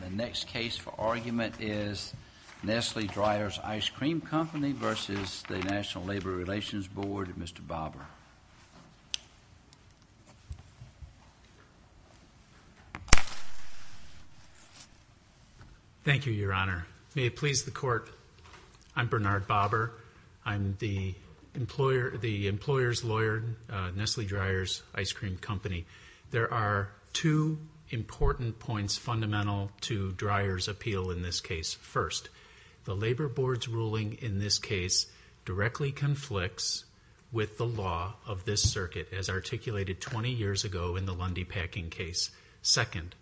The next case for argument is Nestle Dreyer's Ice Cream Co. v. NLRB, Mr. Bobber. Thank you, Your Honor. May it please the Court, I'm Bernard Bobber. I'm the employer's lawyer at Nestle Dreyer's Ice Cream Co. There are two important points fundamental to Dreyer's appeal in this case. First, the Labor Board's ruling in this case directly conflicts with the law of this circuit, as articulated 20 years ago in the Lundy Packing case. Second,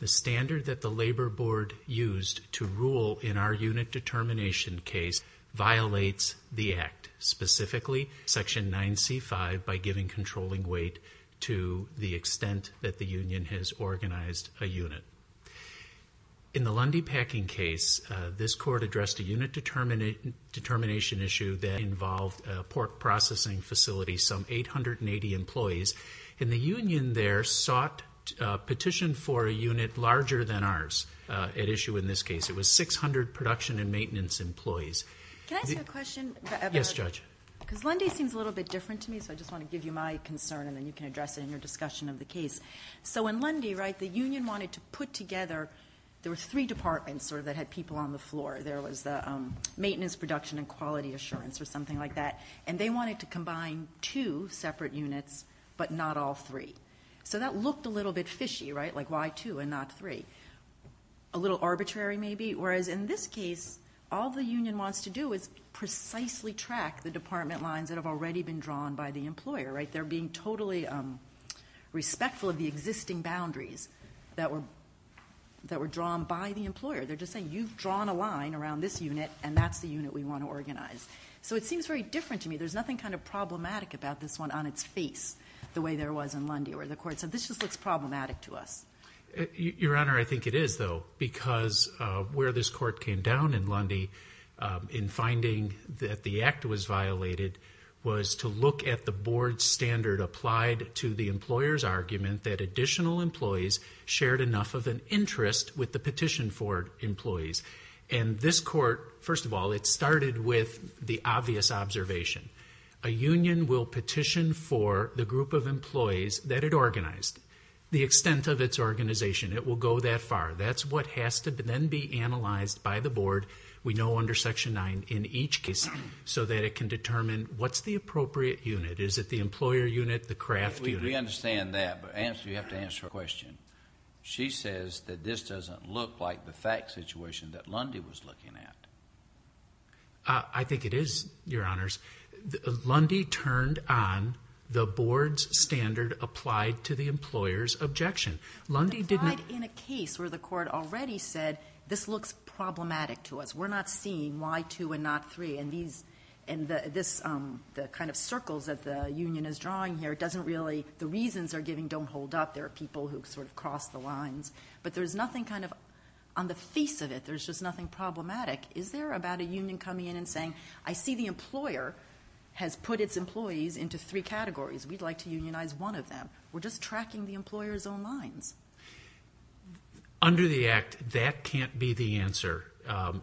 the standard that the Labor Board used to rule in our unit determination case violates the Act, specifically Section 9C-5, by giving controlling weight to the extent that the union has organized a unit. In the Lundy Packing case, this Court addressed a unit determination issue that involved a pork processing facility, some 880 employees. And the union there sought a petition for a unit larger than ours at issue in this case. It was 600 production and maintenance employees. Can I ask you a question, Bernard? Yes, Judge. Because Lundy seems a little bit different to me, so I just want to give you my concern, and then you can address it in your discussion of the case. So in Lundy, right, the union wanted to put together – there were three departments that had people on the floor. There was the maintenance, production, and quality assurance, or something like that. And they wanted to combine two separate units, but not all three. So that looked a little bit fishy, right, like why two and not three? A little arbitrary, maybe, whereas in this case, all the union wants to do is precisely track the department lines that have already been drawn by the employer, right? They're being totally respectful of the existing boundaries that were drawn by the employer. They're just saying, you've drawn a line around this unit, and that's the unit we want to organize. So it seems very different to me. There's nothing kind of problematic about this one on its face, the way there was in Lundy, or the Court said, this just looks problematic to us. Your Honor, I think it is, though, because where this Court came down in Lundy in finding that the act was violated was to look at the board standard applied to the employer's argument that additional employees shared enough of an interest with the petition for employees. And this Court, first of all, it started with the obvious observation. A union will petition for the group of employees that it organized. The extent of its organization, it will go that far. That's what has to then be analyzed by the board, we know under Section 9, in each case, so that it can determine what's the appropriate unit. Is it the employer unit, the craft unit? We understand that, but you have to answer her question. She says that this doesn't look like the fact situation that Lundy was looking at. I think it is, Your Honors. Lundy turned on the board's standard applied to the employer's objection. Lundy did not... In a case where the Court already said, this looks problematic to us. We're not seeing why two and not three, and the kind of circles that the union is drawing here doesn't really, the reasons they're giving don't hold up. There are people who sort of cross the lines. But there's nothing kind of, on the face of it, there's just nothing problematic. Is there about a union coming in and saying, I see the employer has put its employees into three categories. We'd like to unionize one of them. We're just tracking the employer's own lines. Under the Act, that can't be the answer,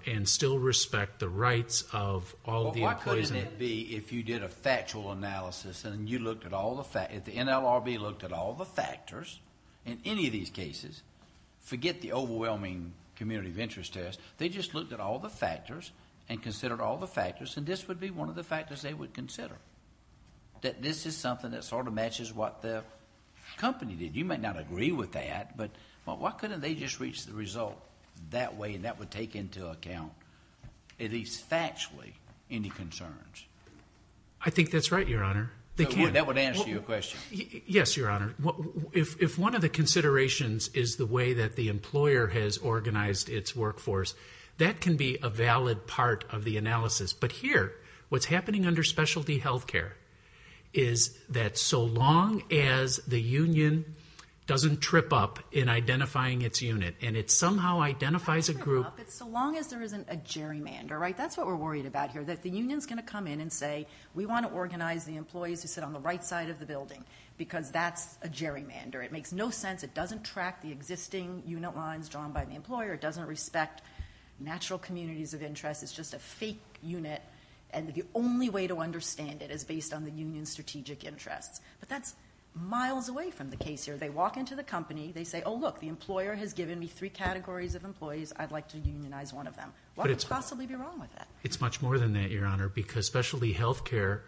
and still respect the rights of all of the employees. Why couldn't it be if you did a factual analysis and you looked at all the facts, if the NLRB looked at all the factors in any of these cases, forget the overwhelming community of interest test, they just looked at all the factors and considered all the factors, and this would be one of the factors they would consider, that this is something that sort of matches what the company did. You might not agree with that, but why couldn't they just reach the result that way and that would take into account, at least factually, any concerns? I think that's right, Your Honor. That would answer your question. Yes, Your Honor. If one of the considerations is the way that the employer has organized its workforce, that can be a valid part of the analysis. But here, what's happening under specialty health care is that so long as the union doesn't trip up in identifying its unit and it somehow identifies a group. It's so long as there isn't a gerrymander, right? That's what we're worried about here, that the union is going to come in and say, we want to organize the employees who sit on the right side of the building because that's a gerrymander. It makes no sense. It doesn't track the existing unit lines drawn by the employer. It doesn't respect natural communities of interest. It's just a fake unit, and the only way to understand it is based on the union's strategic interests. But that's miles away from the case here. They walk into the company. They say, oh, look, the employer has given me three categories of employees. I'd like to unionize one of them. What could possibly be wrong with that? It's much more than that, Your Honor, because specialty health care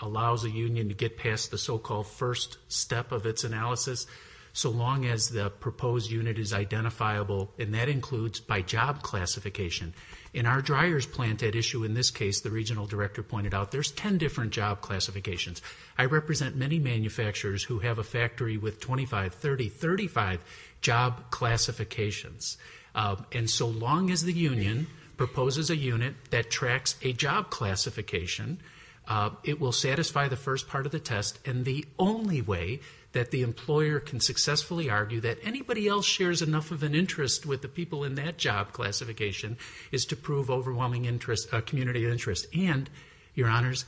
allows a union to get past the so-called first step of its analysis so long as the proposed unit is identifiable, and that includes by job classification. In our dryers plant at issue in this case, the regional director pointed out, there's ten different job classifications. I represent many manufacturers who have a factory with 25, 30, 35 job classifications. And so long as the union proposes a unit that tracks a job classification, it will satisfy the first part of the test, and the only way that the employer can successfully argue that anybody else shares enough of an interest with the people in that job classification is to prove overwhelming community interest. And, Your Honors,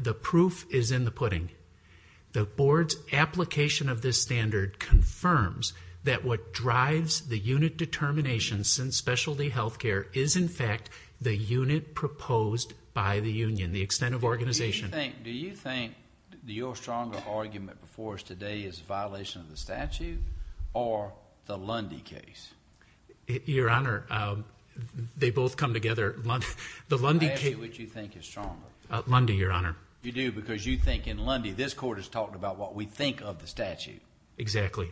the proof is in the pudding. The board's application of this standard confirms that what drives the unit determination since specialty health care is, in fact, the unit proposed by the union, the extent of organization. Do you think your stronger argument before us today is a violation of the statute or the Lundy case? Your Honor, they both come together. I'll ask you what you think is stronger. Lundy, Your Honor. You do because you think in Lundy this court has talked about what we think of the statute. Exactly.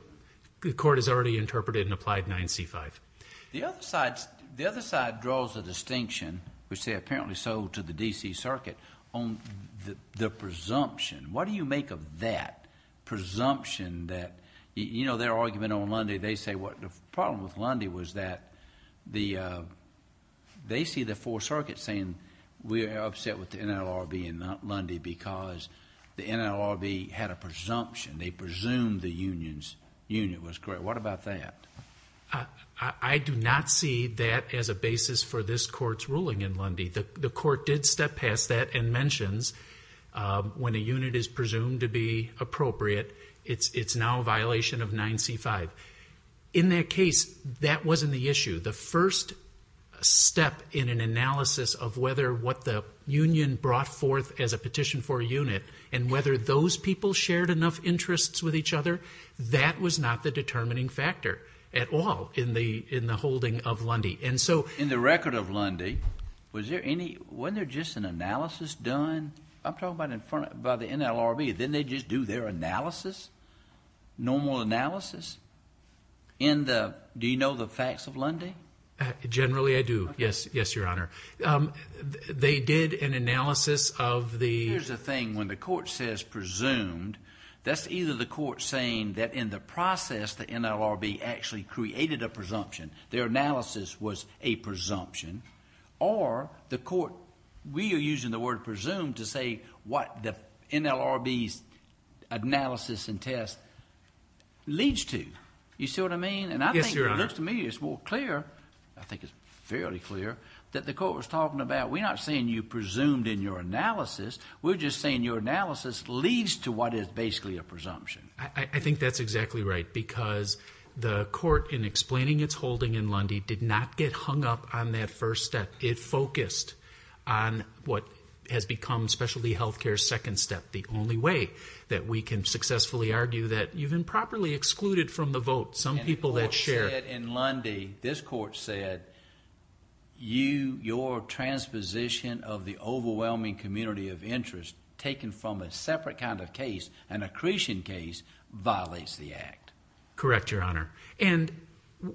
The court has already interpreted and applied 9C5. The other side draws a distinction, which they apparently sold to the D.C. Circuit, on the presumption. What do you make of that presumption that, you know, their argument on Lundy, they say what the problem with Lundy was that they see the 4th Circuit saying we are upset with the NLRB and not Lundy because the NLRB had a presumption. They presumed the union was correct. What about that? I do not see that as a basis for this court's ruling in Lundy. The court did step past that and mentions when a unit is presumed to be appropriate, it's now a violation of 9C5. In their case, that wasn't the issue. The first step in an analysis of whether what the union brought forth as a petition for a unit and whether those people shared enough interests with each other, that was not the determining factor at all in the holding of Lundy. In the record of Lundy, wasn't there just an analysis done? I'm talking about the NLRB. Didn't they just do their analysis, normal analysis? Do you know the facts of Lundy? Generally, I do. Yes, Your Honor. They did an analysis of the— Here's the thing. When the court says presumed, that's either the court saying that in the process, the NLRB actually created a presumption, their analysis was a presumption, or the court—we are using the word presumed to say what the NLRB's analysis and test leads to. You see what I mean? Yes, Your Honor. And I think it looks to me it's more clear, I think it's fairly clear, that the court was talking about we're not saying you presumed in your analysis. We're just saying your analysis leads to what is basically a presumption. I think that's exactly right because the court, in explaining its holding in Lundy, did not get hung up on that first step. It focused on what has become specialty health care's second step, the only way that we can successfully argue that you've improperly excluded from the vote. Some people that share— And the court said in Lundy, this court said, your transposition of the overwhelming community of interest taken from a separate kind of case, an accretion case, violates the act. Correct, Your Honor. And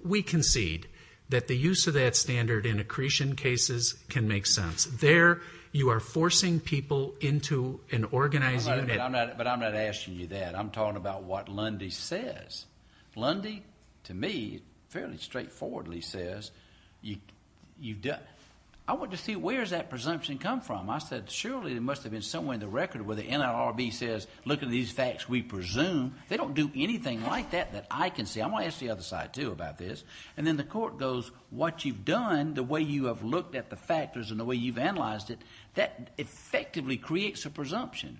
we concede that the use of that standard in accretion cases can make sense. There you are forcing people into an organized unit. But I'm not asking you that. I'm talking about what Lundy says. Lundy, to me, fairly straightforwardly says, I want to see where does that presumption come from? I said, surely there must have been somewhere in the record where the NLRB says, look at these facts we presume. They don't do anything like that that I can see. I'm going to ask the other side, too, about this. And then the court goes, what you've done, the way you have looked at the factors and the way you've analyzed it, that effectively creates a presumption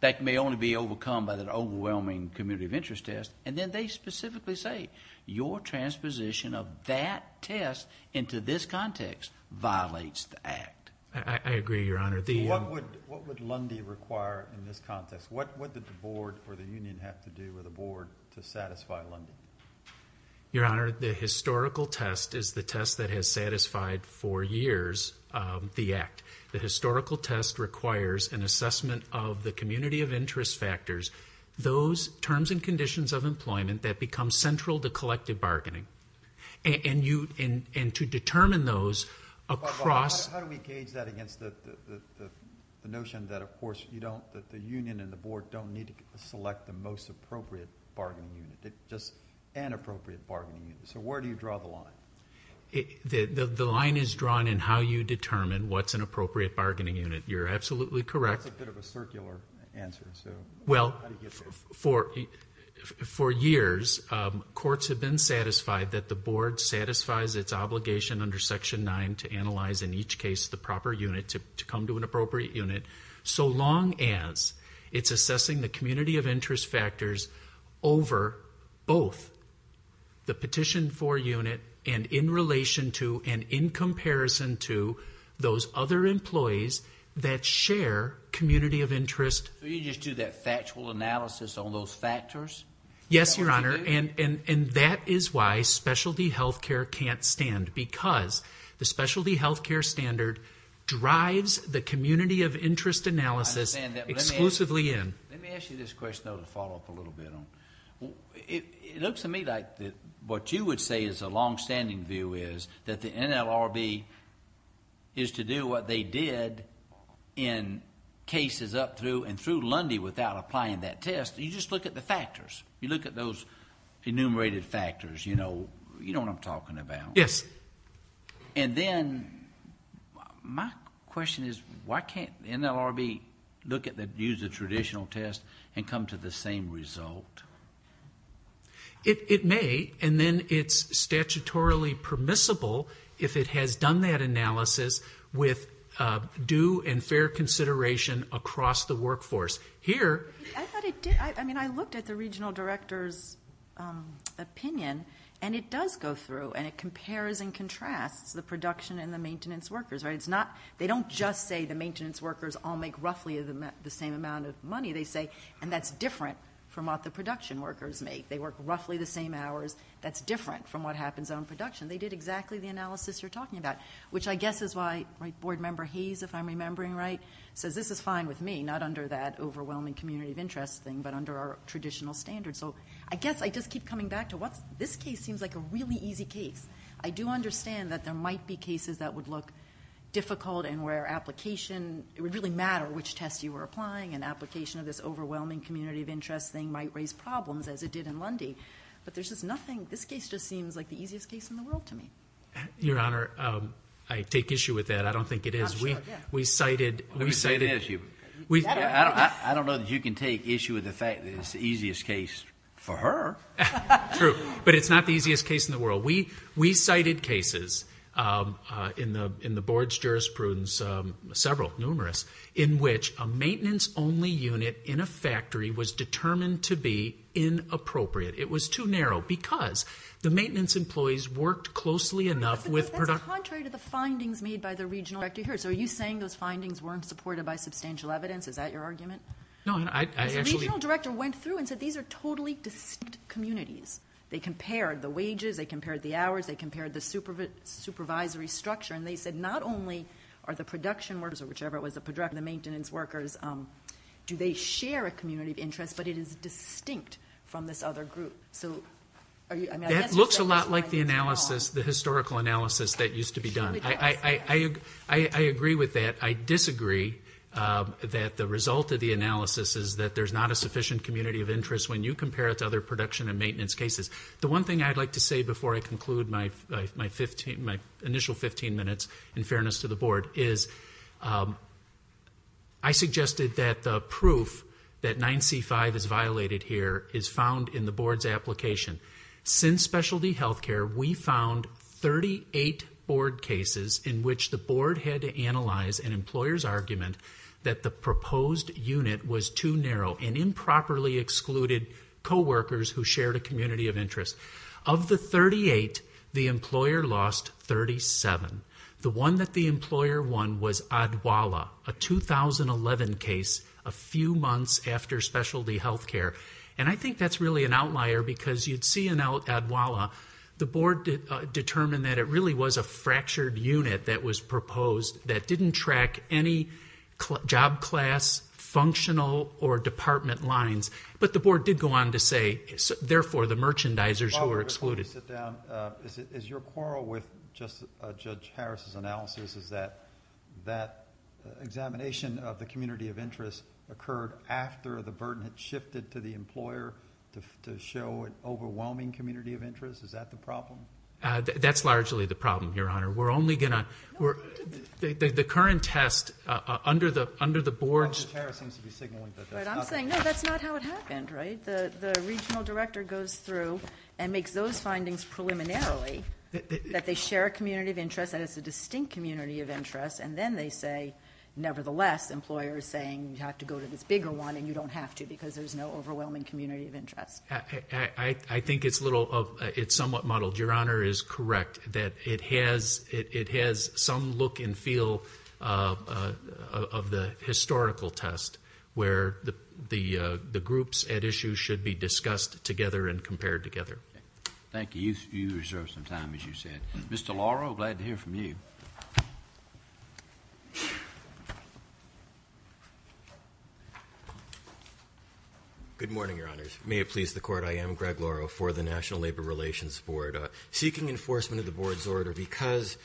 that may only be overcome by that overwhelming community of interest test. And then they specifically say, your transposition of that test into this context violates the act. I agree, Your Honor. What would Lundy require in this context? What did the board or the union have to do with the board to satisfy Lundy? Your Honor, the historical test is the test that has satisfied for years the act. The historical test requires an assessment of the community of interest factors, those terms and conditions of employment that become central to collective bargaining. And to determine those across... How do we gauge that against the notion that, of course, that the union and the board don't need to select the most appropriate bargaining unit, just an appropriate bargaining unit? So where do you draw the line? The line is drawn in how you determine what's an appropriate bargaining unit. You're absolutely correct. That's a bit of a circular answer. Well, for years, courts have been satisfied that the board satisfies its obligation under Section 9 to analyze in each case the proper unit to come to an appropriate unit so long as it's assessing the community of interest factors over both the petition for unit and in relation to and in comparison to those other employees that share community of interest. So you just do that factual analysis on those factors? Yes, Your Honor. And that is why specialty health care can't stand because the specialty health care standard drives the community of interest analysis exclusively in. Let me ask you this question, though, to follow up a little bit on. It looks to me like what you would say is a longstanding view is that the NLRB is to do what they did in cases up through and through Lundy without applying that test. You just look at the factors. You look at those enumerated factors. You know what I'm talking about. Yes. And then my question is, why can't the NLRB use the traditional test and come to the same result? It may, and then it's statutorily permissible if it has done that analysis with due and fair consideration across the workforce. Here... I thought it did. I mean, I looked at the regional director's opinion, and it does go through, and it compares and contrasts the production and the maintenance workers. They don't just say the maintenance workers all make roughly the same amount of money. They say, and that's different from what the production workers make. They work roughly the same hours. That's different from what happens on production. They did exactly the analysis you're talking about, which I guess is why Board Member Hayes, if I'm remembering right, says this is fine with me, not under that overwhelming community of interest thing, but under our traditional standards. So I guess I just keep coming back to what this case seems like a really easy case. I do understand that there might be cases that would look difficult and where application would really matter which test you were applying, and application of this overwhelming community of interest thing might raise problems, as it did in Lundy. But there's just nothing. This case just seems like the easiest case in the world to me. Your Honor, I take issue with that. I don't think it is. We cited... Let me say this. I don't know that you can take issue with the fact that it's the easiest case for her. True, but it's not the easiest case in the world. We cited cases in the Board's jurisprudence, several, numerous, in which a maintenance-only unit in a factory was determined to be inappropriate. It was too narrow because the maintenance employees worked closely enough with... That's contrary to the findings made by the regional director here. So are you saying those findings weren't supported by substantial evidence? Is that your argument? No. The regional director went through and said these are totally distinct communities. They compared the wages. They compared the hours. They compared the supervisory structure, and they said not only are the production workers or whichever it was, the maintenance workers, do they share a community of interest, but it is distinct from this other group. That looks a lot like the historical analysis that used to be done. I agree with that. I disagree that the result of the analysis is that there's not a sufficient community of interest when you compare it to other production and maintenance cases. The one thing I'd like to say before I conclude my initial 15 minutes, in fairness to the Board, is I suggested that the proof that 9C-5 is violated here is found in the Board's application. Since specialty health care, we found 38 Board cases in which the Board had to analyze an employer's argument that the proposed unit was too narrow and improperly excluded coworkers who shared a community of interest. Of the 38, the employer lost 37. The one that the employer won was Adwala, a 2011 case a few months after specialty health care. I think that's really an outlier because you'd see in Adwala, the Board determined that it really was a fractured unit that was proposed that didn't track any job class, functional, or department lines. But the Board did go on to say, therefore, the merchandisers were excluded. As your quarrel with Judge Harris' analysis is that that examination of the community of interest occurred after the burden had shifted to the employer to show an overwhelming community of interest? Is that the problem? That's largely the problem, Your Honor. We're only going to—the current test under the Board's— Judge Harris seems to be signaling that that's not the case. But I'm saying, no, that's not how it happened, right? The regional director goes through and makes those findings preliminarily, that they share a community of interest, that it's a distinct community of interest, and then they say, nevertheless, employers saying you have to go to this bigger one and you don't have to because there's no overwhelming community of interest. I think it's somewhat muddled. Your Honor is correct that it has some look and feel of the historical test where the groups at issue should be discussed together and compared together. Thank you. You reserved some time, as you said. Mr. Lauro, glad to hear from you. Good morning, Your Honors. May it please the Court, I am Greg Lauro for the National Labor Relations Board. Seeking enforcement of the Board's order because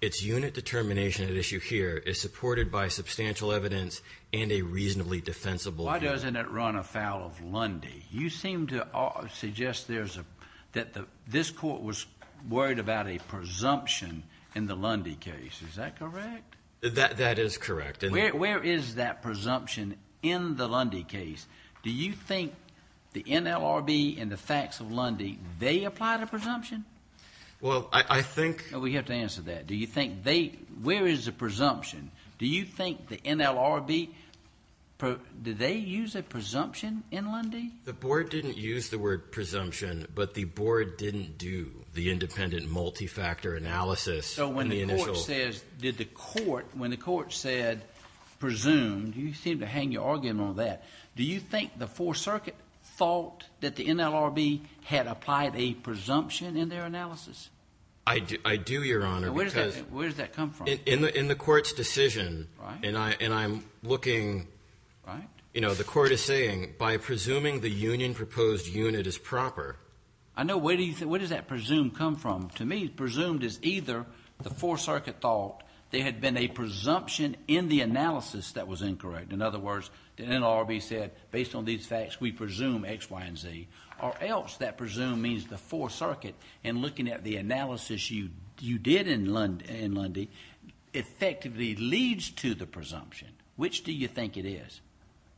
its unit determination at issue here is supported by substantial evidence and a reasonably defensible— Why doesn't it run afoul of Lundy? You seem to suggest that this Court was worried about a presumption in the Lundy case. Is that correct? That is correct. Where is that presumption in the Lundy case? Do you think the NLRB and the facts of Lundy, they applied a presumption? Well, I think— We have to answer that. Where is the presumption? Do you think the NLRB, did they use a presumption in Lundy? The Board didn't use the word presumption, but the Board didn't do the independent multifactor analysis on the initial— So when the Court says, did the Court, when the Court said presumed, you seem to hang your argument on that. Do you think the Fourth Circuit thought that the NLRB had applied a presumption in their analysis? I do, Your Honor, because— Where does that come from? In the Court's decision, and I'm looking— Right. You know, the Court is saying, by presuming the union proposed unit is proper— I know. Where does that presume come from? To me, presumed is either the Fourth Circuit thought there had been a presumption in the analysis that was incorrect. In other words, the NLRB said, based on these facts, we presume X, Y, and Z. Or else that presume means the Fourth Circuit, in looking at the analysis you did in Lundy, effectively leads to the presumption. Which do you think it is?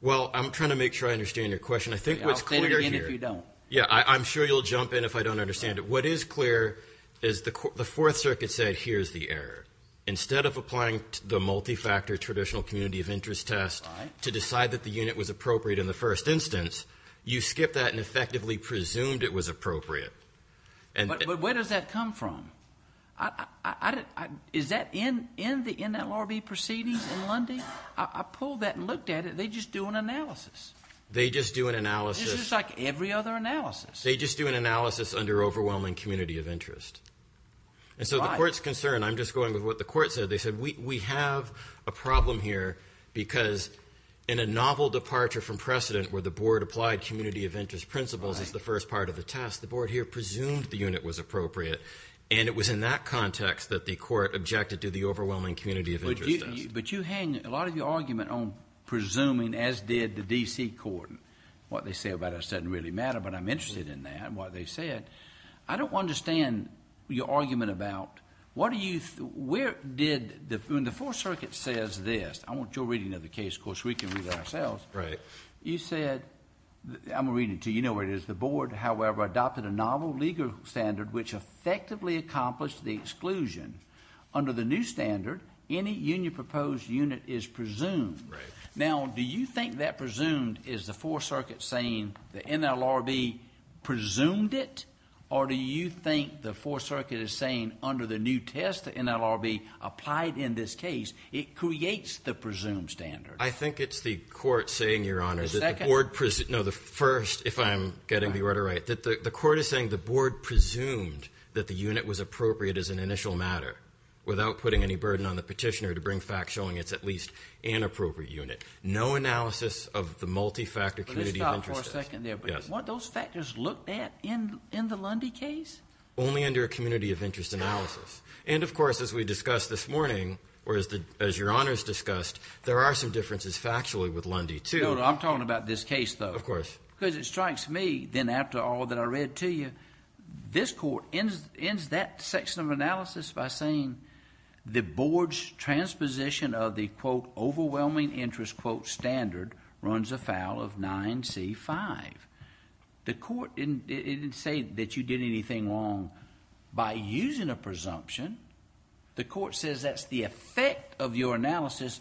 Well, I'm trying to make sure I understand your question. I think what's clear here— I'll say it again if you don't. Yeah, I'm sure you'll jump in if I don't understand it. What is clear is the Fourth Circuit said, here's the error. Instead of applying the multifactor traditional community of interest test to decide that the unit was appropriate in the first instance, you skipped that and effectively presumed it was appropriate. But where does that come from? Is that in the NLRB proceedings in Lundy? I pulled that and looked at it. They just do an analysis. They just do an analysis. This is like every other analysis. They just do an analysis under overwhelming community of interest. Right. And so the Court's concern—I'm just going with what the Court said. They said, we have a problem here because in a novel departure from precedent where the Board applied community of interest principles as the first part of the test, the Board here presumed the unit was appropriate. And it was in that context that the Court objected to the overwhelming community of interest test. But you hang a lot of your argument on presuming as did the D.C. Court. What they say about us doesn't really matter, but I'm interested in that and what they said. I don't understand your argument about what are you—where did—when the Fourth Circuit says this, I want your reading of the case because we can read it ourselves. Right. You said—I'm going to read it to you. You know where it is. The Board, however, adopted a novel legal standard which effectively accomplished the exclusion. Under the new standard, any union-proposed unit is presumed. Right. Now, do you think that presumed is the Fourth Circuit saying the NLRB presumed it? Or do you think the Fourth Circuit is saying under the new test the NLRB applied in this case, it creates the presumed standard? I think it's the Court saying, Your Honor— The second? No, the first, if I'm getting the order right. The Court is saying the Board presumed that the unit was appropriate as an initial matter without putting any burden on the petitioner to bring facts showing it's at least an appropriate unit. No analysis of the multi-factor community of interest test. Let's stop for a second there. Yes. What those factors looked at in the Lundy case? Only under a community of interest analysis. How? And, of course, as we discussed this morning, or as Your Honors discussed, there are some differences factually with Lundy, too. I'm talking about this case, though. Of course. Because it strikes me, then, after all that I read to you, this Court ends that section of analysis by saying the Board's transposition of the, quote, overwhelming interest, quote, standard runs afoul of 9c-5. The Court didn't say that you did anything wrong by using a presumption. The Court says that's the effect of your analysis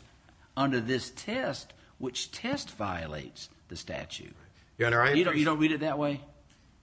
under this test, which test violates the statute. Your Honor, I— You don't read it that way?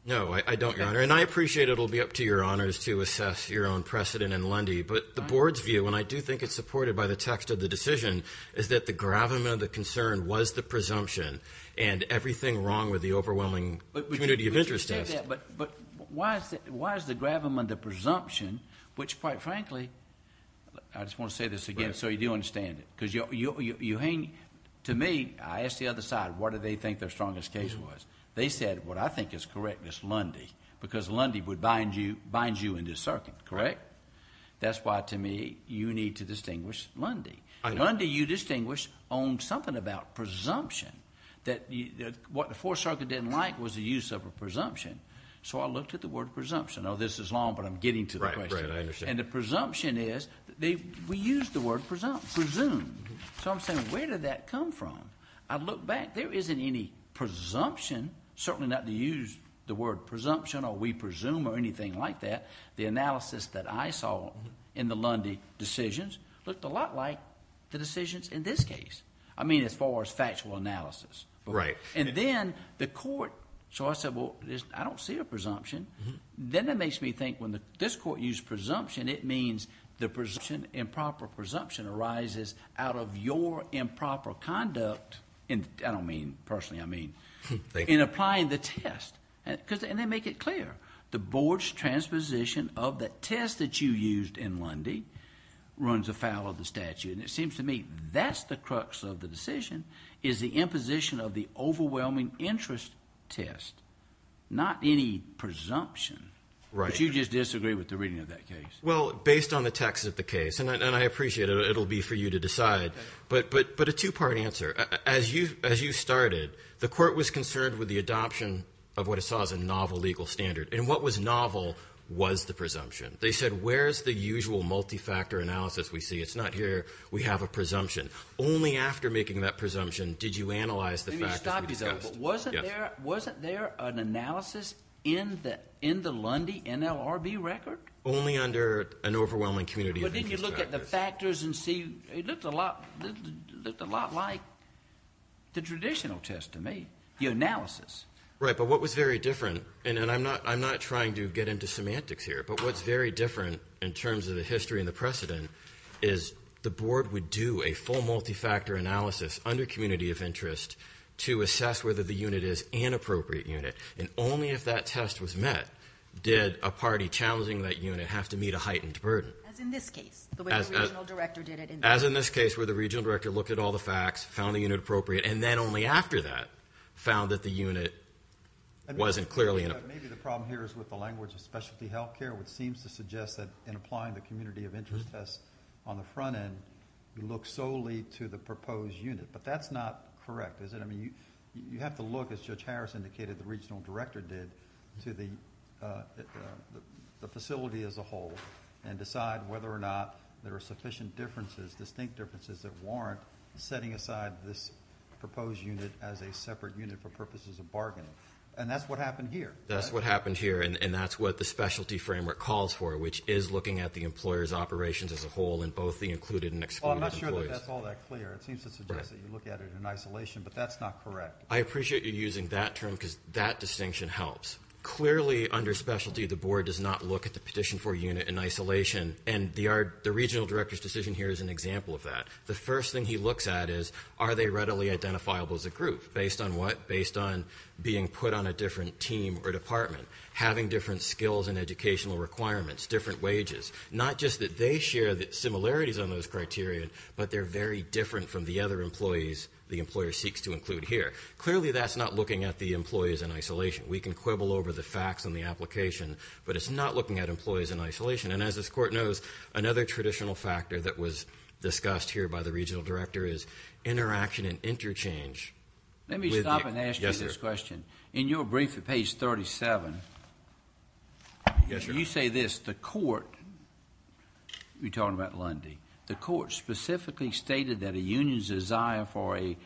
No, I don't, Your Honor. And I appreciate it will be up to Your Honors to assess your own precedent in Lundy. But the Board's view, and I do think it's supported by the text of the decision, is that the gravamen of the concern was the presumption and everything wrong with the overwhelming community of interest test. But why is the gravamen the presumption, which, quite frankly—I just want to say this again so you do understand it. Because you hang—to me, I asked the other side, what do they think their strongest case was? They said, what I think is correct is Lundy, because Lundy would bind you in this circuit, correct? That's why, to me, you need to distinguish Lundy. Lundy, you distinguish on something about presumption, that what the Fourth Circuit didn't like was the use of a presumption. So I looked at the word presumption. Oh, this is long, but I'm getting to the question. Right, right, I understand. And the presumption is—we use the word presumption, presumed. So I'm saying, where did that come from? I look back. There isn't any presumption, certainly not to use the word presumption or we presume or anything like that. The analysis that I saw in the Lundy decisions looked a lot like the decisions in this case. I mean as far as factual analysis. Right. And then the court—so I said, well, I don't see a presumption. Then that makes me think when this court used presumption, it means the presumption, improper presumption, arises out of your improper conduct. And I don't mean personally, I mean in applying the test. And they make it clear. The board's transposition of the test that you used in Lundy runs afoul of the statute. And it seems to me that's the crux of the decision is the imposition of the overwhelming interest test, not any presumption. Right. But you just disagree with the reading of that case. Well, based on the text of the case, and I appreciate it, it will be for you to decide, but a two-part answer. As you started, the court was concerned with the adoption of what it saw as a novel legal standard. And what was novel was the presumption. They said, where's the usual multi-factor analysis we see? It's not here. We have a presumption. Only after making that presumption did you analyze the factors we discussed. But wasn't there an analysis in the Lundy NLRB record? Only under an overwhelming community of— But then you look at the factors and see it looked a lot like the traditional test to me, the analysis. Right, but what was very different, and I'm not trying to get into semantics here, but what's very different in terms of the history and the precedent is the board would do a full multi-factor analysis under community of interest to assess whether the unit is an appropriate unit. And only if that test was met did a party challenging that unit have to meet a heightened burden. As in this case, the way the regional director did it. As in this case, where the regional director looked at all the facts, found a unit appropriate, and then only after that found that the unit wasn't clearly enough. Maybe the problem here is with the language of specialty health care, which seems to suggest that in applying the community of interest test on the front end, you look solely to the proposed unit. But that's not correct, is it? I mean, you have to look, as Judge Harris indicated the regional director did, to the facility as a whole and decide whether or not there are sufficient differences, distinct differences, that warrant setting aside this proposed unit as a separate unit for purposes of bargaining. And that's what happened here. That's what happened here, and that's what the specialty framework calls for, which is looking at the employer's operations as a whole in both the included and excluded employees. Well, I'm not sure that that's all that clear. It seems to suggest that you look at it in isolation, but that's not correct. I appreciate you using that term because that distinction helps. Clearly, under specialty, the board does not look at the petition for a unit in isolation, and the regional director's decision here is an example of that. The first thing he looks at is are they readily identifiable as a group, based on what? Based on being put on a different team or department, having different skills and educational requirements, different wages. Not just that they share similarities on those criteria, but they're very different from the other employees the employer seeks to include here. Clearly, that's not looking at the employees in isolation. We can quibble over the facts in the application, but it's not looking at employees in isolation. And as this court knows, another traditional factor that was discussed here by the regional director is interaction and interchange. Let me stop and ask you this question. In your brief at page 37, you say this. You're talking about Lundy. The court specifically stated that a union's desire for a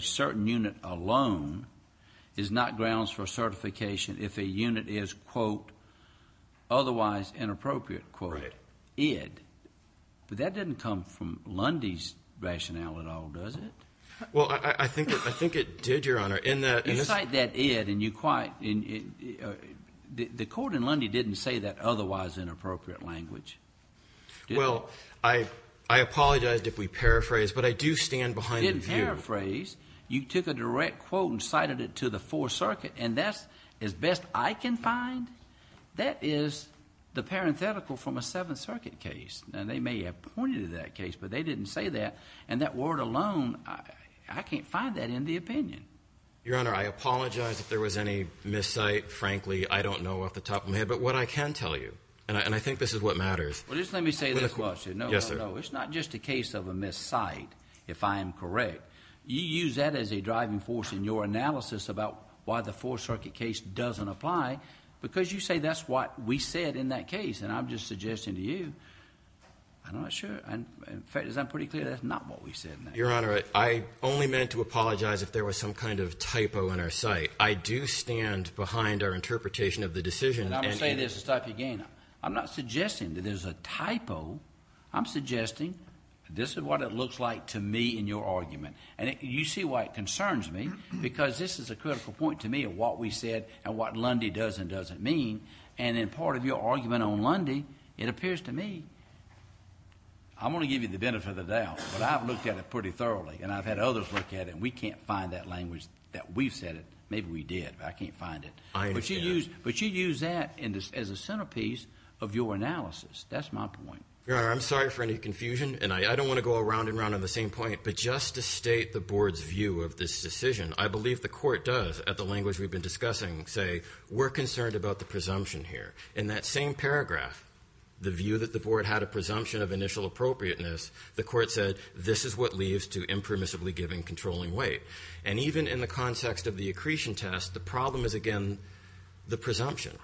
certain unit alone is not grounds for certification if a unit is, quote, otherwise inappropriate, quote, id. But that didn't come from Lundy's rationale at all, does it? Well, I think it did, Your Honor. You cite that id, and you quite ñ the court in Lundy didn't say that otherwise inappropriate language. Well, I apologize if we paraphrase, but I do stand behind the view. You didn't paraphrase. You took a direct quote and cited it to the Fourth Circuit, and that's, as best I can find, that is the parenthetical from a Seventh Circuit case. Now, they may have pointed to that case, but they didn't say that. And that word alone, I can't find that in the opinion. Your Honor, I apologize if there was any miscite. Frankly, I don't know off the top of my head. But what I can tell you, and I think this is what matters. Well, just let me say this question. Yes, sir. No, no, no. It's not just a case of a miscite, if I am correct. You use that as a driving force in your analysis about why the Fourth Circuit case doesn't apply because you say that's what we said in that case. And I'm just suggesting to you, I'm not sure. In fact, as I'm pretty clear, that's not what we said in that case. Your Honor, I only meant to apologize if there was some kind of typo in our cite. I do stand behind our interpretation of the decision. And I'm going to say this again. I'm not suggesting that there's a typo. I'm suggesting this is what it looks like to me in your argument. And you see why it concerns me because this is a critical point to me of what we said and what Lundy does and doesn't mean. And in part of your argument on Lundy, it appears to me I'm going to give you the benefit of the doubt. But I've looked at it pretty thoroughly, and I've had others look at it, and we can't find that language that we've said it. Maybe we did, but I can't find it. I understand. But you use that as a centerpiece of your analysis. That's my point. Your Honor, I'm sorry for any confusion, and I don't want to go around and around on the same point. But just to state the board's view of this decision, I believe the court does, at the language we've been discussing, say, we're concerned about the presumption here. In that same paragraph, the view that the board had a presumption of initial appropriateness, the court said, this is what leads to impermissibly giving controlling weight. And even in the context of the accretion test, the problem is, again, the presumption.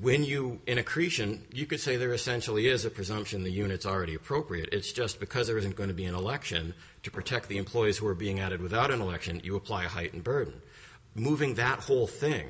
When you, in accretion, you could say there essentially is a presumption the unit's already appropriate. It's just because there isn't going to be an election to protect the employees who are being added without an election, you apply a heightened burden. Moving that whole thing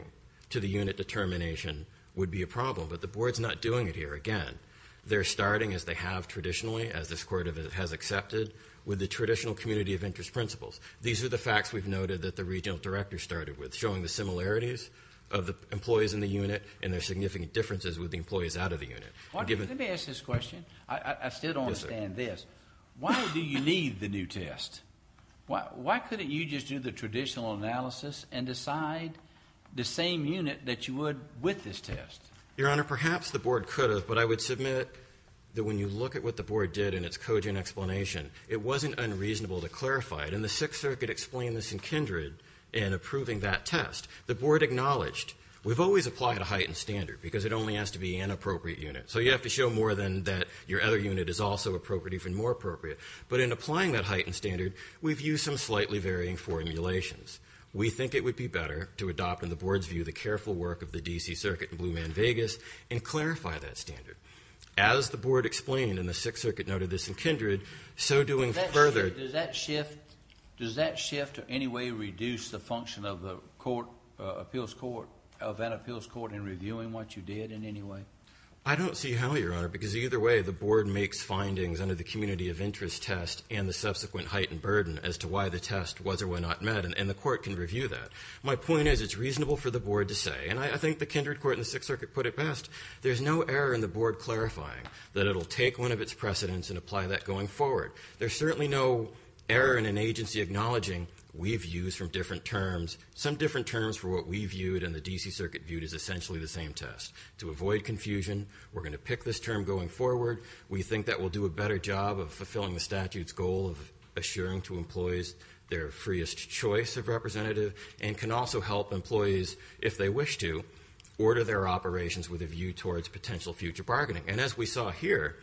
to the unit determination would be a problem. But the board's not doing it here. Again, they're starting as they have traditionally, as this court has accepted, with the traditional community of interest principles. These are the facts we've noted that the regional director started with, showing the similarities of the employees in the unit and their significant differences with the employees out of the unit. Let me ask this question. I still don't understand this. Why do you need the new test? Why couldn't you just do the traditional analysis and decide the same unit that you would with this test? Your Honor, perhaps the board could have, but I would submit that when you look at what the board did in its cogent explanation, it wasn't unreasonable to clarify it. And the Sixth Circuit explained this in kindred in approving that test. The board acknowledged, we've always applied a heightened standard because it only has to be an appropriate unit. So you have to show more than that your other unit is also appropriate, even more appropriate. But in applying that heightened standard, we've used some slightly varying formulations. We think it would be better to adopt in the board's view the careful work of the D.C. Circuit in Blue Man, Vegas, and clarify that standard. As the board explained, and the Sixth Circuit noted this in kindred, so doing further. Does that shift in any way reduce the function of that appeals court in reviewing what you did in any way? I don't see how, Your Honor, because either way the board makes findings under the community of interest test and the subsequent heightened burden as to why the test was or was not met. And the court can review that. My point is it's reasonable for the board to say, and I think the kindred court in the Sixth Circuit put it best, there's no error in the board clarifying that it'll take one of its precedents and apply that going forward. There's certainly no error in an agency acknowledging we've used from different terms, some different terms for what we viewed and the D.C. Circuit viewed as essentially the same test. To avoid confusion, we're going to pick this term going forward. We think that will do a better job of fulfilling the statute's goal of assuring to employees their freest choice of representative and can also help employees, if they wish to, order their operations with a view towards potential future bargaining. And as we saw here,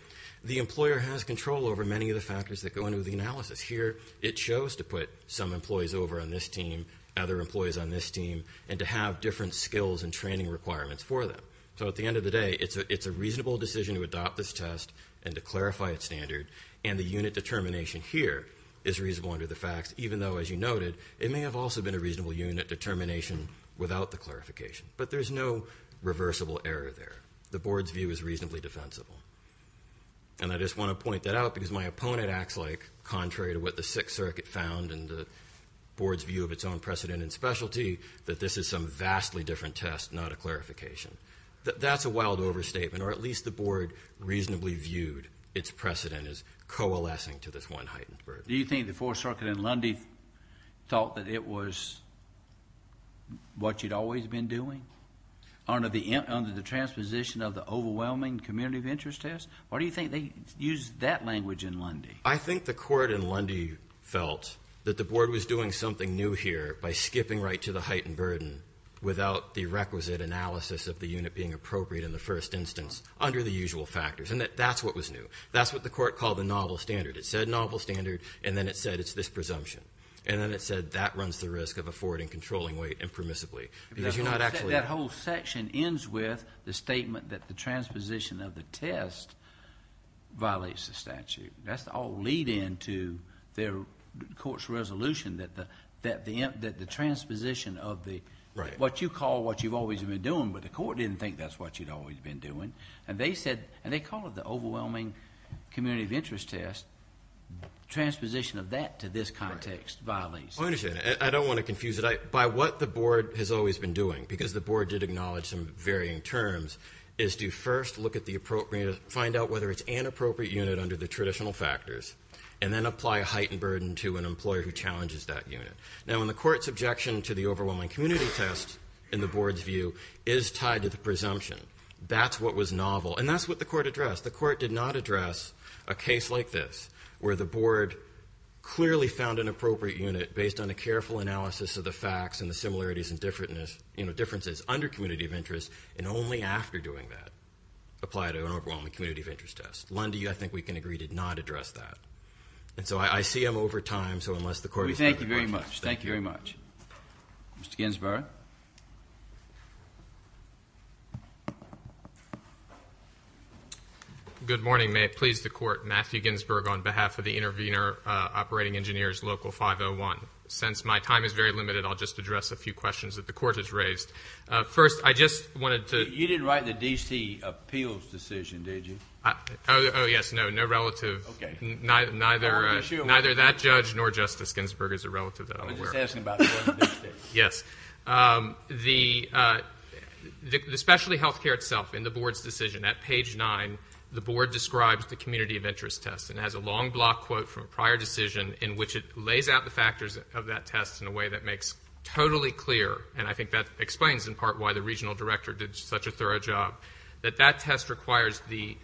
the employer has control over many of the factors that go into the analysis. Here it shows to put some employees over on this team, other employees on this team, and to have different skills and training requirements for them. So at the end of the day, it's a reasonable decision to adopt this test and to clarify its standard, and the unit determination here is reasonable under the facts, even though, as you noted, it may have also been a reasonable unit determination without the clarification. But there's no reversible error there. The board's view is reasonably defensible. And I just want to point that out because my opponent acts like, contrary to what the Sixth Circuit found and the board's view of its own precedent and specialty, that this is some vastly different test, not a clarification. That's a wild overstatement, or at least the board reasonably viewed its precedent as coalescing to this one heightened burden. Do you think the Fourth Circuit and Lundy thought that it was what you'd always been doing? Under the transposition of the overwhelming community of interest test? Or do you think they used that language in Lundy? I think the court in Lundy felt that the board was doing something new here by skipping right to the heightened burden without the requisite analysis of the unit being appropriate in the first instance under the usual factors, and that that's what was new. That's what the court called the novel standard. It said novel standard, and then it said it's this presumption. And then it said that runs the risk of affording controlling weight impermissibly because you're not actually That whole section ends with the statement that the transposition of the test violates the statute. That's all leading to the court's resolution that the transposition of what you call what you've always been doing, but the court didn't think that's what you'd always been doing. And they said, and they call it the overwhelming community of interest test. Transposition of that to this context violates. I understand. I don't want to confuse it. By what the board has always been doing, because the board did acknowledge some varying terms, is to first look at the appropriate, find out whether it's an appropriate unit under the traditional factors, and then apply a heightened burden to an employer who challenges that unit. Now, in the court's objection to the overwhelming community test, in the board's view, is tied to the presumption. That's what was novel. And that's what the court addressed. The court did not address a case like this, where the board clearly found an appropriate unit based on a careful analysis of the facts and the similarities and differences under community of interest, and only after doing that, apply to an overwhelming community of interest test. Lundy, I think we can agree to not address that. And so I see I'm over time, so unless the court is ready. We thank you very much. Thank you very much. Mr. Ginsburg. Good morning. May it please the court, Matthew Ginsburg, on behalf of the intervener, Operating Engineers Local 501. Since my time is very limited, I'll just address a few questions that the court has raised. First, I just wanted to. You didn't write the D.C. appeals decision, did you? Oh, yes. No, no relative. Okay. Neither that judge nor Justice Ginsburg is a relative that I'm aware of. I was just asking about that. Yes. The specialty health care itself in the board's decision, at page nine, the board describes the community of interest test and has a long block quote from a prior decision in which it lays out the factors of that test in a way that makes totally clear, and I think that explains in part why the regional director did such a thorough job, that that test requires the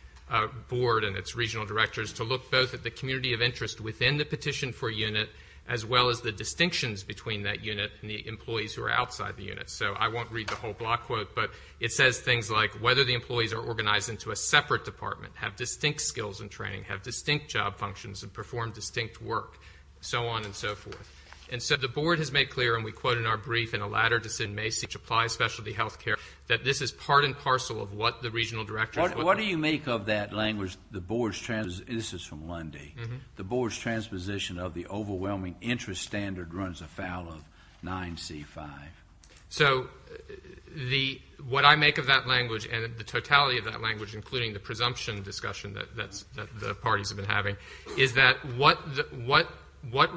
board and its regional directors to look both at the community of interest within the petition for unit as well as the distinctions between that unit and the employees who are outside the unit. So I won't read the whole block quote, but it says things like whether the employees are organized into a separate department, have distinct skills in training, have distinct job functions, and perform distinct work, so on and so forth. And so the board has made clear, and we quote in our brief, in a latter decision may seek to apply specialty health care, that this is part and parcel of what the regional directors. What do you make of that language, the board's, this is from Lundy, the board's transposition of the overwhelming interest standard runs afoul of 9C-5? So what I make of that language and the totality of that language, including the presumption discussion that the parties have been having, is that what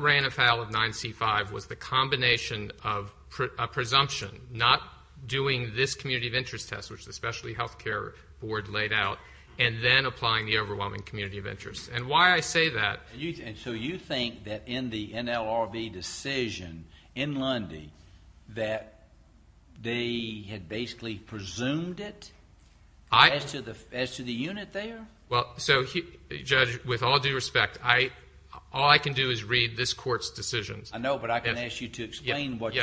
ran afoul of 9C-5 was the combination of a presumption, not doing this community of interest test, which the specialty health care board laid out, and then applying the overwhelming community of interest. And why I say that. And so you think that in the NLRB decision in Lundy that they had basically presumed it as to the unit there? Well, so, Judge, with all due respect, all I can do is read this court's decisions. I know, but I can ask you to explain what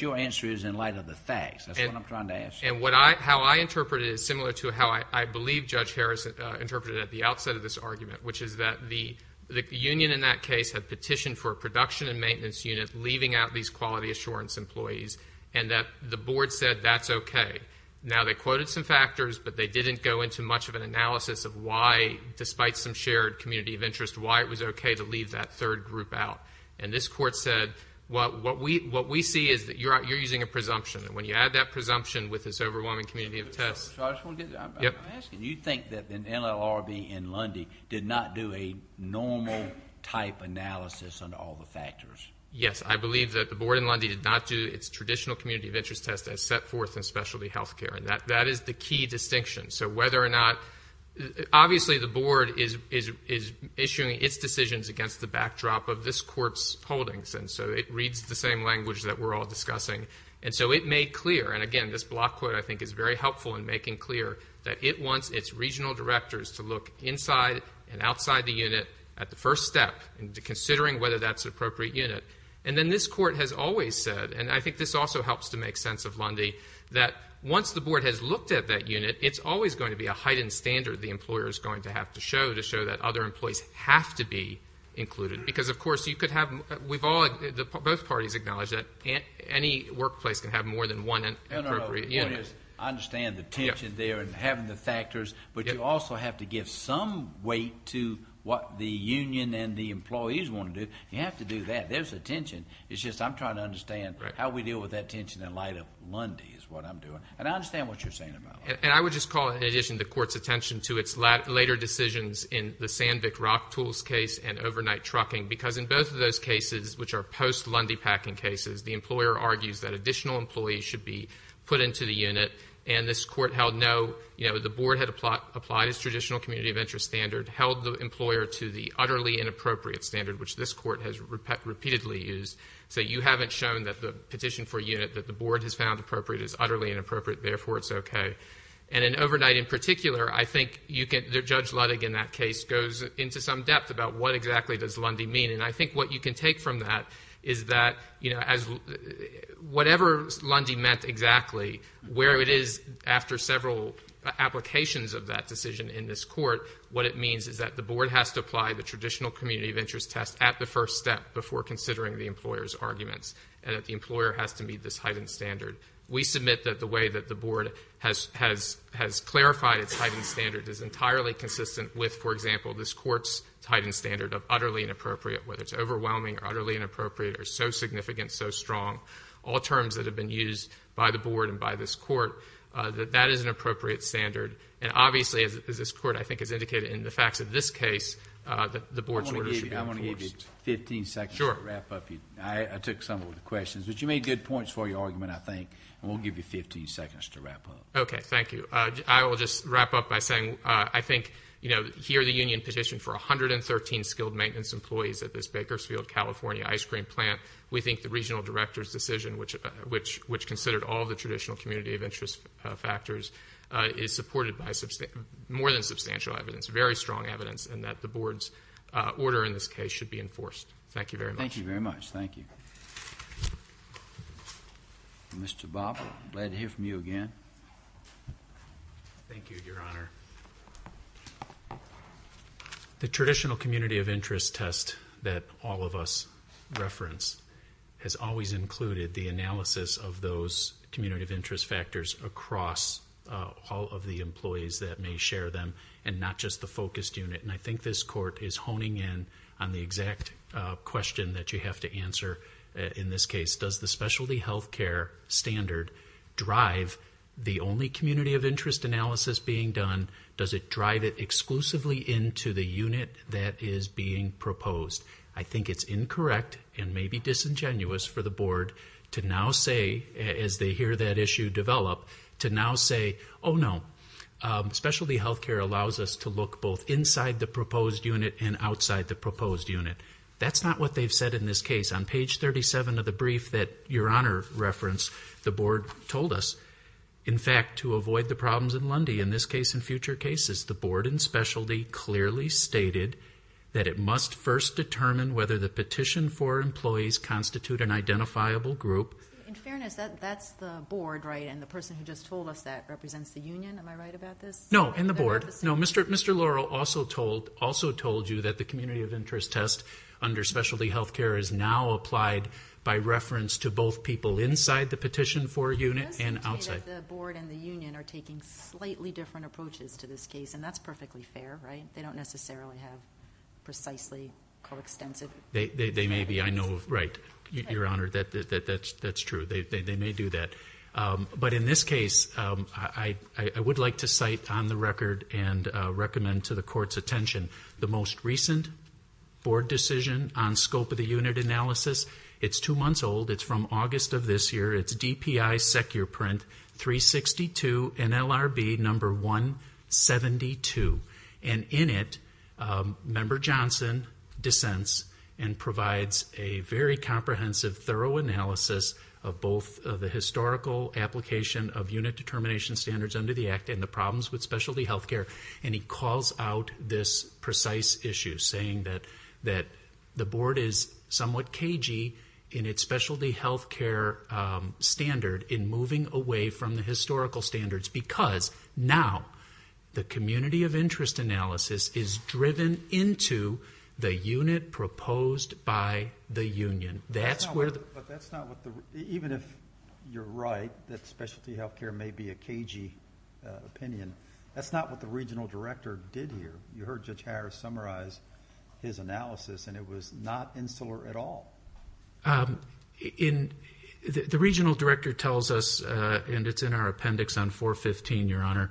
your answer is in light of the facts. That's what I'm trying to ask you. And how I interpret it is similar to how I believe Judge Harris interpreted it at the outset of this argument, which is that the union in that case had petitioned for a production and maintenance unit leaving out these quality assurance employees, and that the board said that's okay. Now, they quoted some factors, but they didn't go into much of an analysis of why, despite some shared community of interest, why it was okay to leave that third group out. And this court said what we see is that you're using a presumption, and when you add that presumption with this overwhelming community of tests. I'm asking, do you think that the NLRB in Lundy did not do a normal type analysis on all the factors? Yes, I believe that the board in Lundy did not do its traditional community of interest test as set forth in specialty health care, and that is the key distinction. So whether or not, obviously the board is issuing its decisions against the backdrop of this court's holdings, and so it reads the same language that we're all discussing. And so it made clear, and again, this block quote, I think, is very helpful in making clear that it wants its regional directors to look inside and outside the unit at the first step and considering whether that's an appropriate unit. And then this court has always said, and I think this also helps to make sense of Lundy, that once the board has looked at that unit, it's always going to be a heightened standard the employer is going to have to show to show that other employees have to be included. Because, of course, you could have, we've all, both parties acknowledge that any workplace can have more than one appropriate unit. No, no, no, the point is I understand the tension there and having the factors, but you also have to give some weight to what the union and the employees want to do. You have to do that. There's a tension. It's just I'm trying to understand how we deal with that tension in light of Lundy is what I'm doing. And I understand what you're saying about Lundy. And I would just call it, in addition to the court's attention to its later decisions in the Sandvik Rock tools case and overnight trucking, because in both of those cases, which are post-Lundy packing cases, the employer argues that additional employees should be put into the unit, and this court held no, you know, the board had applied its traditional community of interest standard, held the employer to the utterly inappropriate standard, which this court has repeatedly used. So you haven't shown that the petition for a unit that the board has found appropriate is utterly inappropriate, therefore it's okay. And in overnight in particular, I think you can, Judge Ludwig in that case, goes into some depth about what exactly does Lundy mean. And I think what you can take from that is that, you know, whatever Lundy meant exactly, where it is after several applications of that decision in this court, what it means is that the board has to apply the traditional community of interest test at the first step before considering the employer's arguments and that the employer has to meet this heightened standard. We submit that the way that the board has clarified its heightened standard is entirely consistent with, for example, this court's heightened standard of utterly inappropriate, whether it's overwhelming or utterly inappropriate or so significant, so strong, all terms that have been used by the board and by this court, that that is an appropriate standard. And obviously, as this court, I think, has indicated in the facts of this case, that the board's order should be enforced. I want to give you 15 seconds to wrap up. Sure. Thank you. I took some of the questions, but you made good points for your argument, I think, and we'll give you 15 seconds to wrap up. Okay. Thank you. I will just wrap up by saying I think, you know, here the union petitioned for 113 skilled maintenance employees at this Bakersfield, California, ice cream plant. We think the regional director's decision, which considered all the traditional community of interest factors, is supported by more than substantial evidence, very strong evidence, in that the board's order in this case should be enforced. Thank you very much. Thank you very much. Thank you. Mr. Bob, glad to hear from you again. Thank you, Your Honor. The traditional community of interest test that all of us reference has always included the analysis of those community of interest factors across all of the employees that may share them and not just the focused unit. And I think this court is honing in on the exact question that you have to answer in this case. Does the specialty health care standard drive the only community of interest analysis being done? Does it drive it exclusively into the unit that is being proposed? I think it's incorrect and maybe disingenuous for the board to now say, as they hear that issue develop, to now say, oh, no, specialty health care allows us to look both inside the proposed unit and outside the proposed unit. That's not what they've said in this case. On page 37 of the brief that Your Honor referenced, the board told us, in fact, to avoid the problems in Lundy. In this case and future cases, the board and specialty clearly stated that it must first determine whether the petition for employees constitute an identifiable group. In fairness, that's the board, right, and the person who just told us that represents the union. Am I right about this? No, in the board. No, Mr. Laurel also told you that the community of interest test under specialty health care is now applied by reference to both people inside the petition for a unit and outside. Does this indicate that the board and the union are taking slightly different approaches to this case? And that's perfectly fair, right? They don't necessarily have precisely co-extensive. They may be. I know, right, Your Honor, that's true. They may do that. But in this case, I would like to cite on the record and recommend to the court's attention the most recent board decision on scope of the unit analysis. It's two months old. It's from August of this year. It's DPI Secure Print 362 NLRB number 172. And in it, Member Johnson dissents and provides a very comprehensive, thorough analysis of both the historical application of unit determination standards under the Act and the problems with specialty health care. And he calls out this precise issue, saying that the board is somewhat cagey in its specialty health care standard in moving away from the historical standards because now the community of interest analysis is driven into the unit proposed by the union. That's where the... But that's not what the... Even if you're right that specialty health care may be a cagey opinion, that's not what the regional director did here. You heard Judge Harris summarize his analysis, and it was not insular at all. The regional director tells us, and it's in our appendix on 415, Your Honor,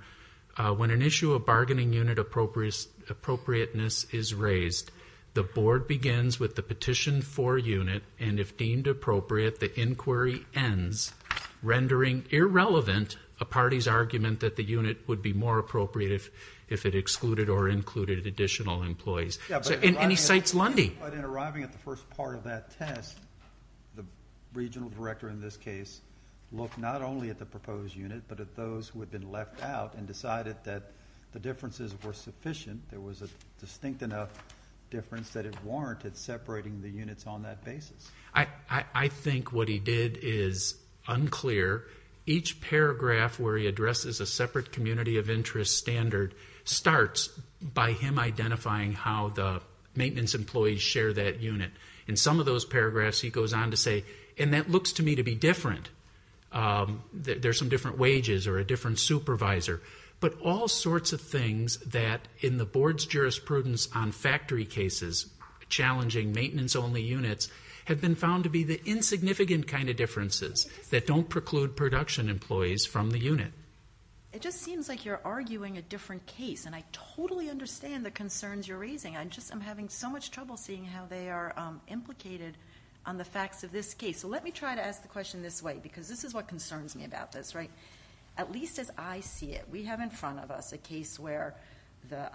when an issue of bargaining unit appropriateness is raised, the board begins with the petition for unit, and if deemed appropriate, the inquiry ends, rendering irrelevant a party's argument that the unit would be more appropriate if it excluded or included additional employees. And he cites Lundy. But in arriving at the first part of that test, the regional director in this case looked not only at the proposed unit but at those who had been left out and decided that the differences were sufficient, there was a distinct enough difference that it warranted separating the units on that basis. I think what he did is unclear. Each paragraph where he addresses a separate community of interest standard starts by him identifying how the maintenance employees share that unit. In some of those paragraphs he goes on to say, and that looks to me to be different, there's some different wages or a different supervisor, but all sorts of things that in the board's jurisprudence on factory cases, challenging maintenance-only units, have been found to be the insignificant kind of differences that don't preclude production employees from the unit. It just seems like you're arguing a different case, and I totally understand the concerns you're raising. I'm just having so much trouble seeing how they are implicated on the facts of this case. So let me try to ask the question this way, because this is what concerns me about this. At least as I see it, we have in front of us a case where the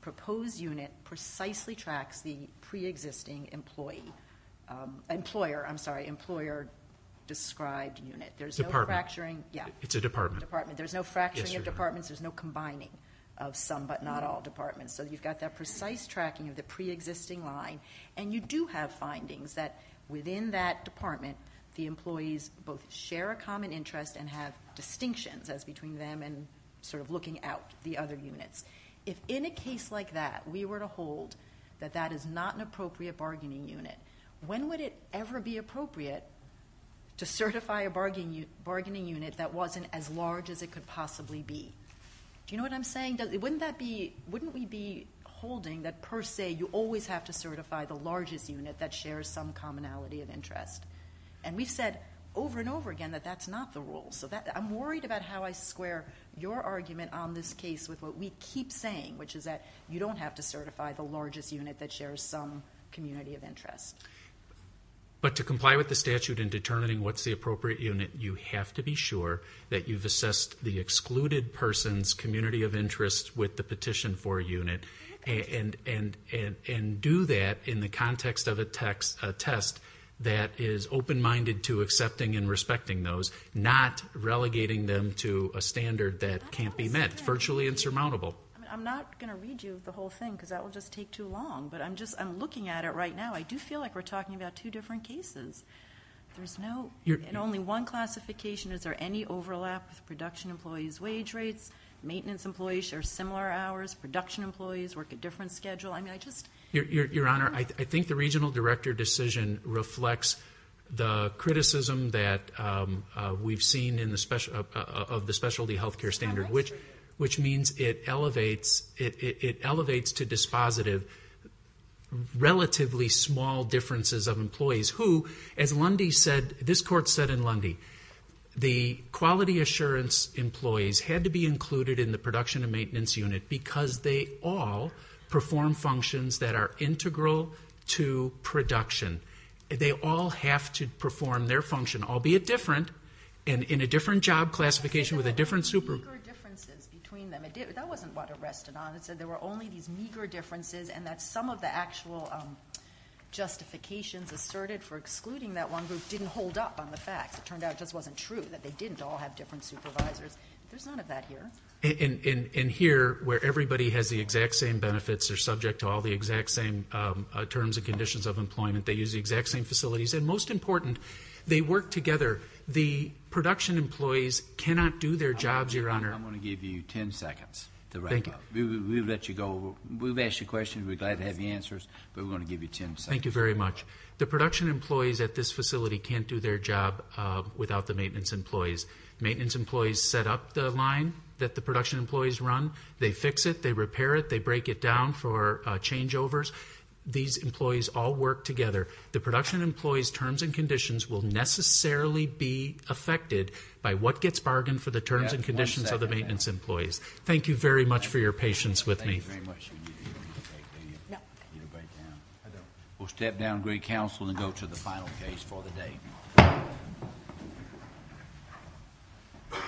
proposed unit precisely tracks the pre-existing employer-described unit. Department. Yeah. It's a department. Department. There's no fracturing of departments. There's no combining of some but not all departments. So you've got that precise tracking of the pre-existing line, and you do have findings that within that department the employees both share a common interest and have distinctions as between them and sort of looking out the other units. If in a case like that we were to hold that that is not an appropriate bargaining unit, when would it ever be appropriate to certify a bargaining unit that wasn't as large as it could possibly be? Do you know what I'm saying? Wouldn't we be holding that per se you always have to certify the largest unit that shares some commonality of interest? And we've said over and over again that that's not the rule. So I'm worried about how I square your argument on this case with what we keep saying, which is that you don't have to certify the largest unit that shares some community of interest. But to comply with the statute in determining what's the appropriate unit, you have to be sure that you've assessed the excluded person's community of interest with the petition for a unit and do that in the context of a test that is open-minded to accepting and respecting those, not relegating them to a standard that can't be met. It's virtually insurmountable. I'm not going to read you the whole thing because that will just take too long, but I'm looking at it right now. I do feel like we're talking about two different cases. There's no and only one classification. Is there any overlap with production employees' wage rates? Maintenance employees share similar hours. Production employees work a different schedule. I mean, I just- Your Honor, I think the regional director decision reflects the criticism that we've seen of the specialty health care standard, which means it elevates to dispositive relatively small differences of employees, who, as this Court said in Lundy, the quality assurance employees had to be included in the production and maintenance unit because they all perform functions that are integral to production. They all have to perform their function, albeit different, and in a different job classification with a different- There were meager differences between them. That wasn't what it rested on. It said there were only these meager differences and that some of the actual justifications asserted for excluding that one group didn't hold up on the facts. It turned out it just wasn't true, that they didn't all have different supervisors. There's none of that here. And here, where everybody has the exact same benefits, they're subject to all the exact same terms and conditions of employment, they use the exact same facilities, and most important, they work together. The production employees cannot do their jobs, Your Honor. I'm going to give you 10 seconds to wrap up. We'll let you go. We've asked you questions. We're glad to have the answers, but we're going to give you 10 seconds. Thank you very much. The production employees at this facility can't do their job without the maintenance employees. Maintenance employees set up the line that the production employees run. They fix it. They repair it. They break it down for changeovers. These employees all work together. The production employees' terms and conditions will necessarily be affected by what gets bargained for the terms and conditions of the maintenance employees. Thank you very much for your patience with me. Thank you very much. You don't need a break, do you? No. You don't break down? I don't. We'll step down to great counsel and go to the final case for the day.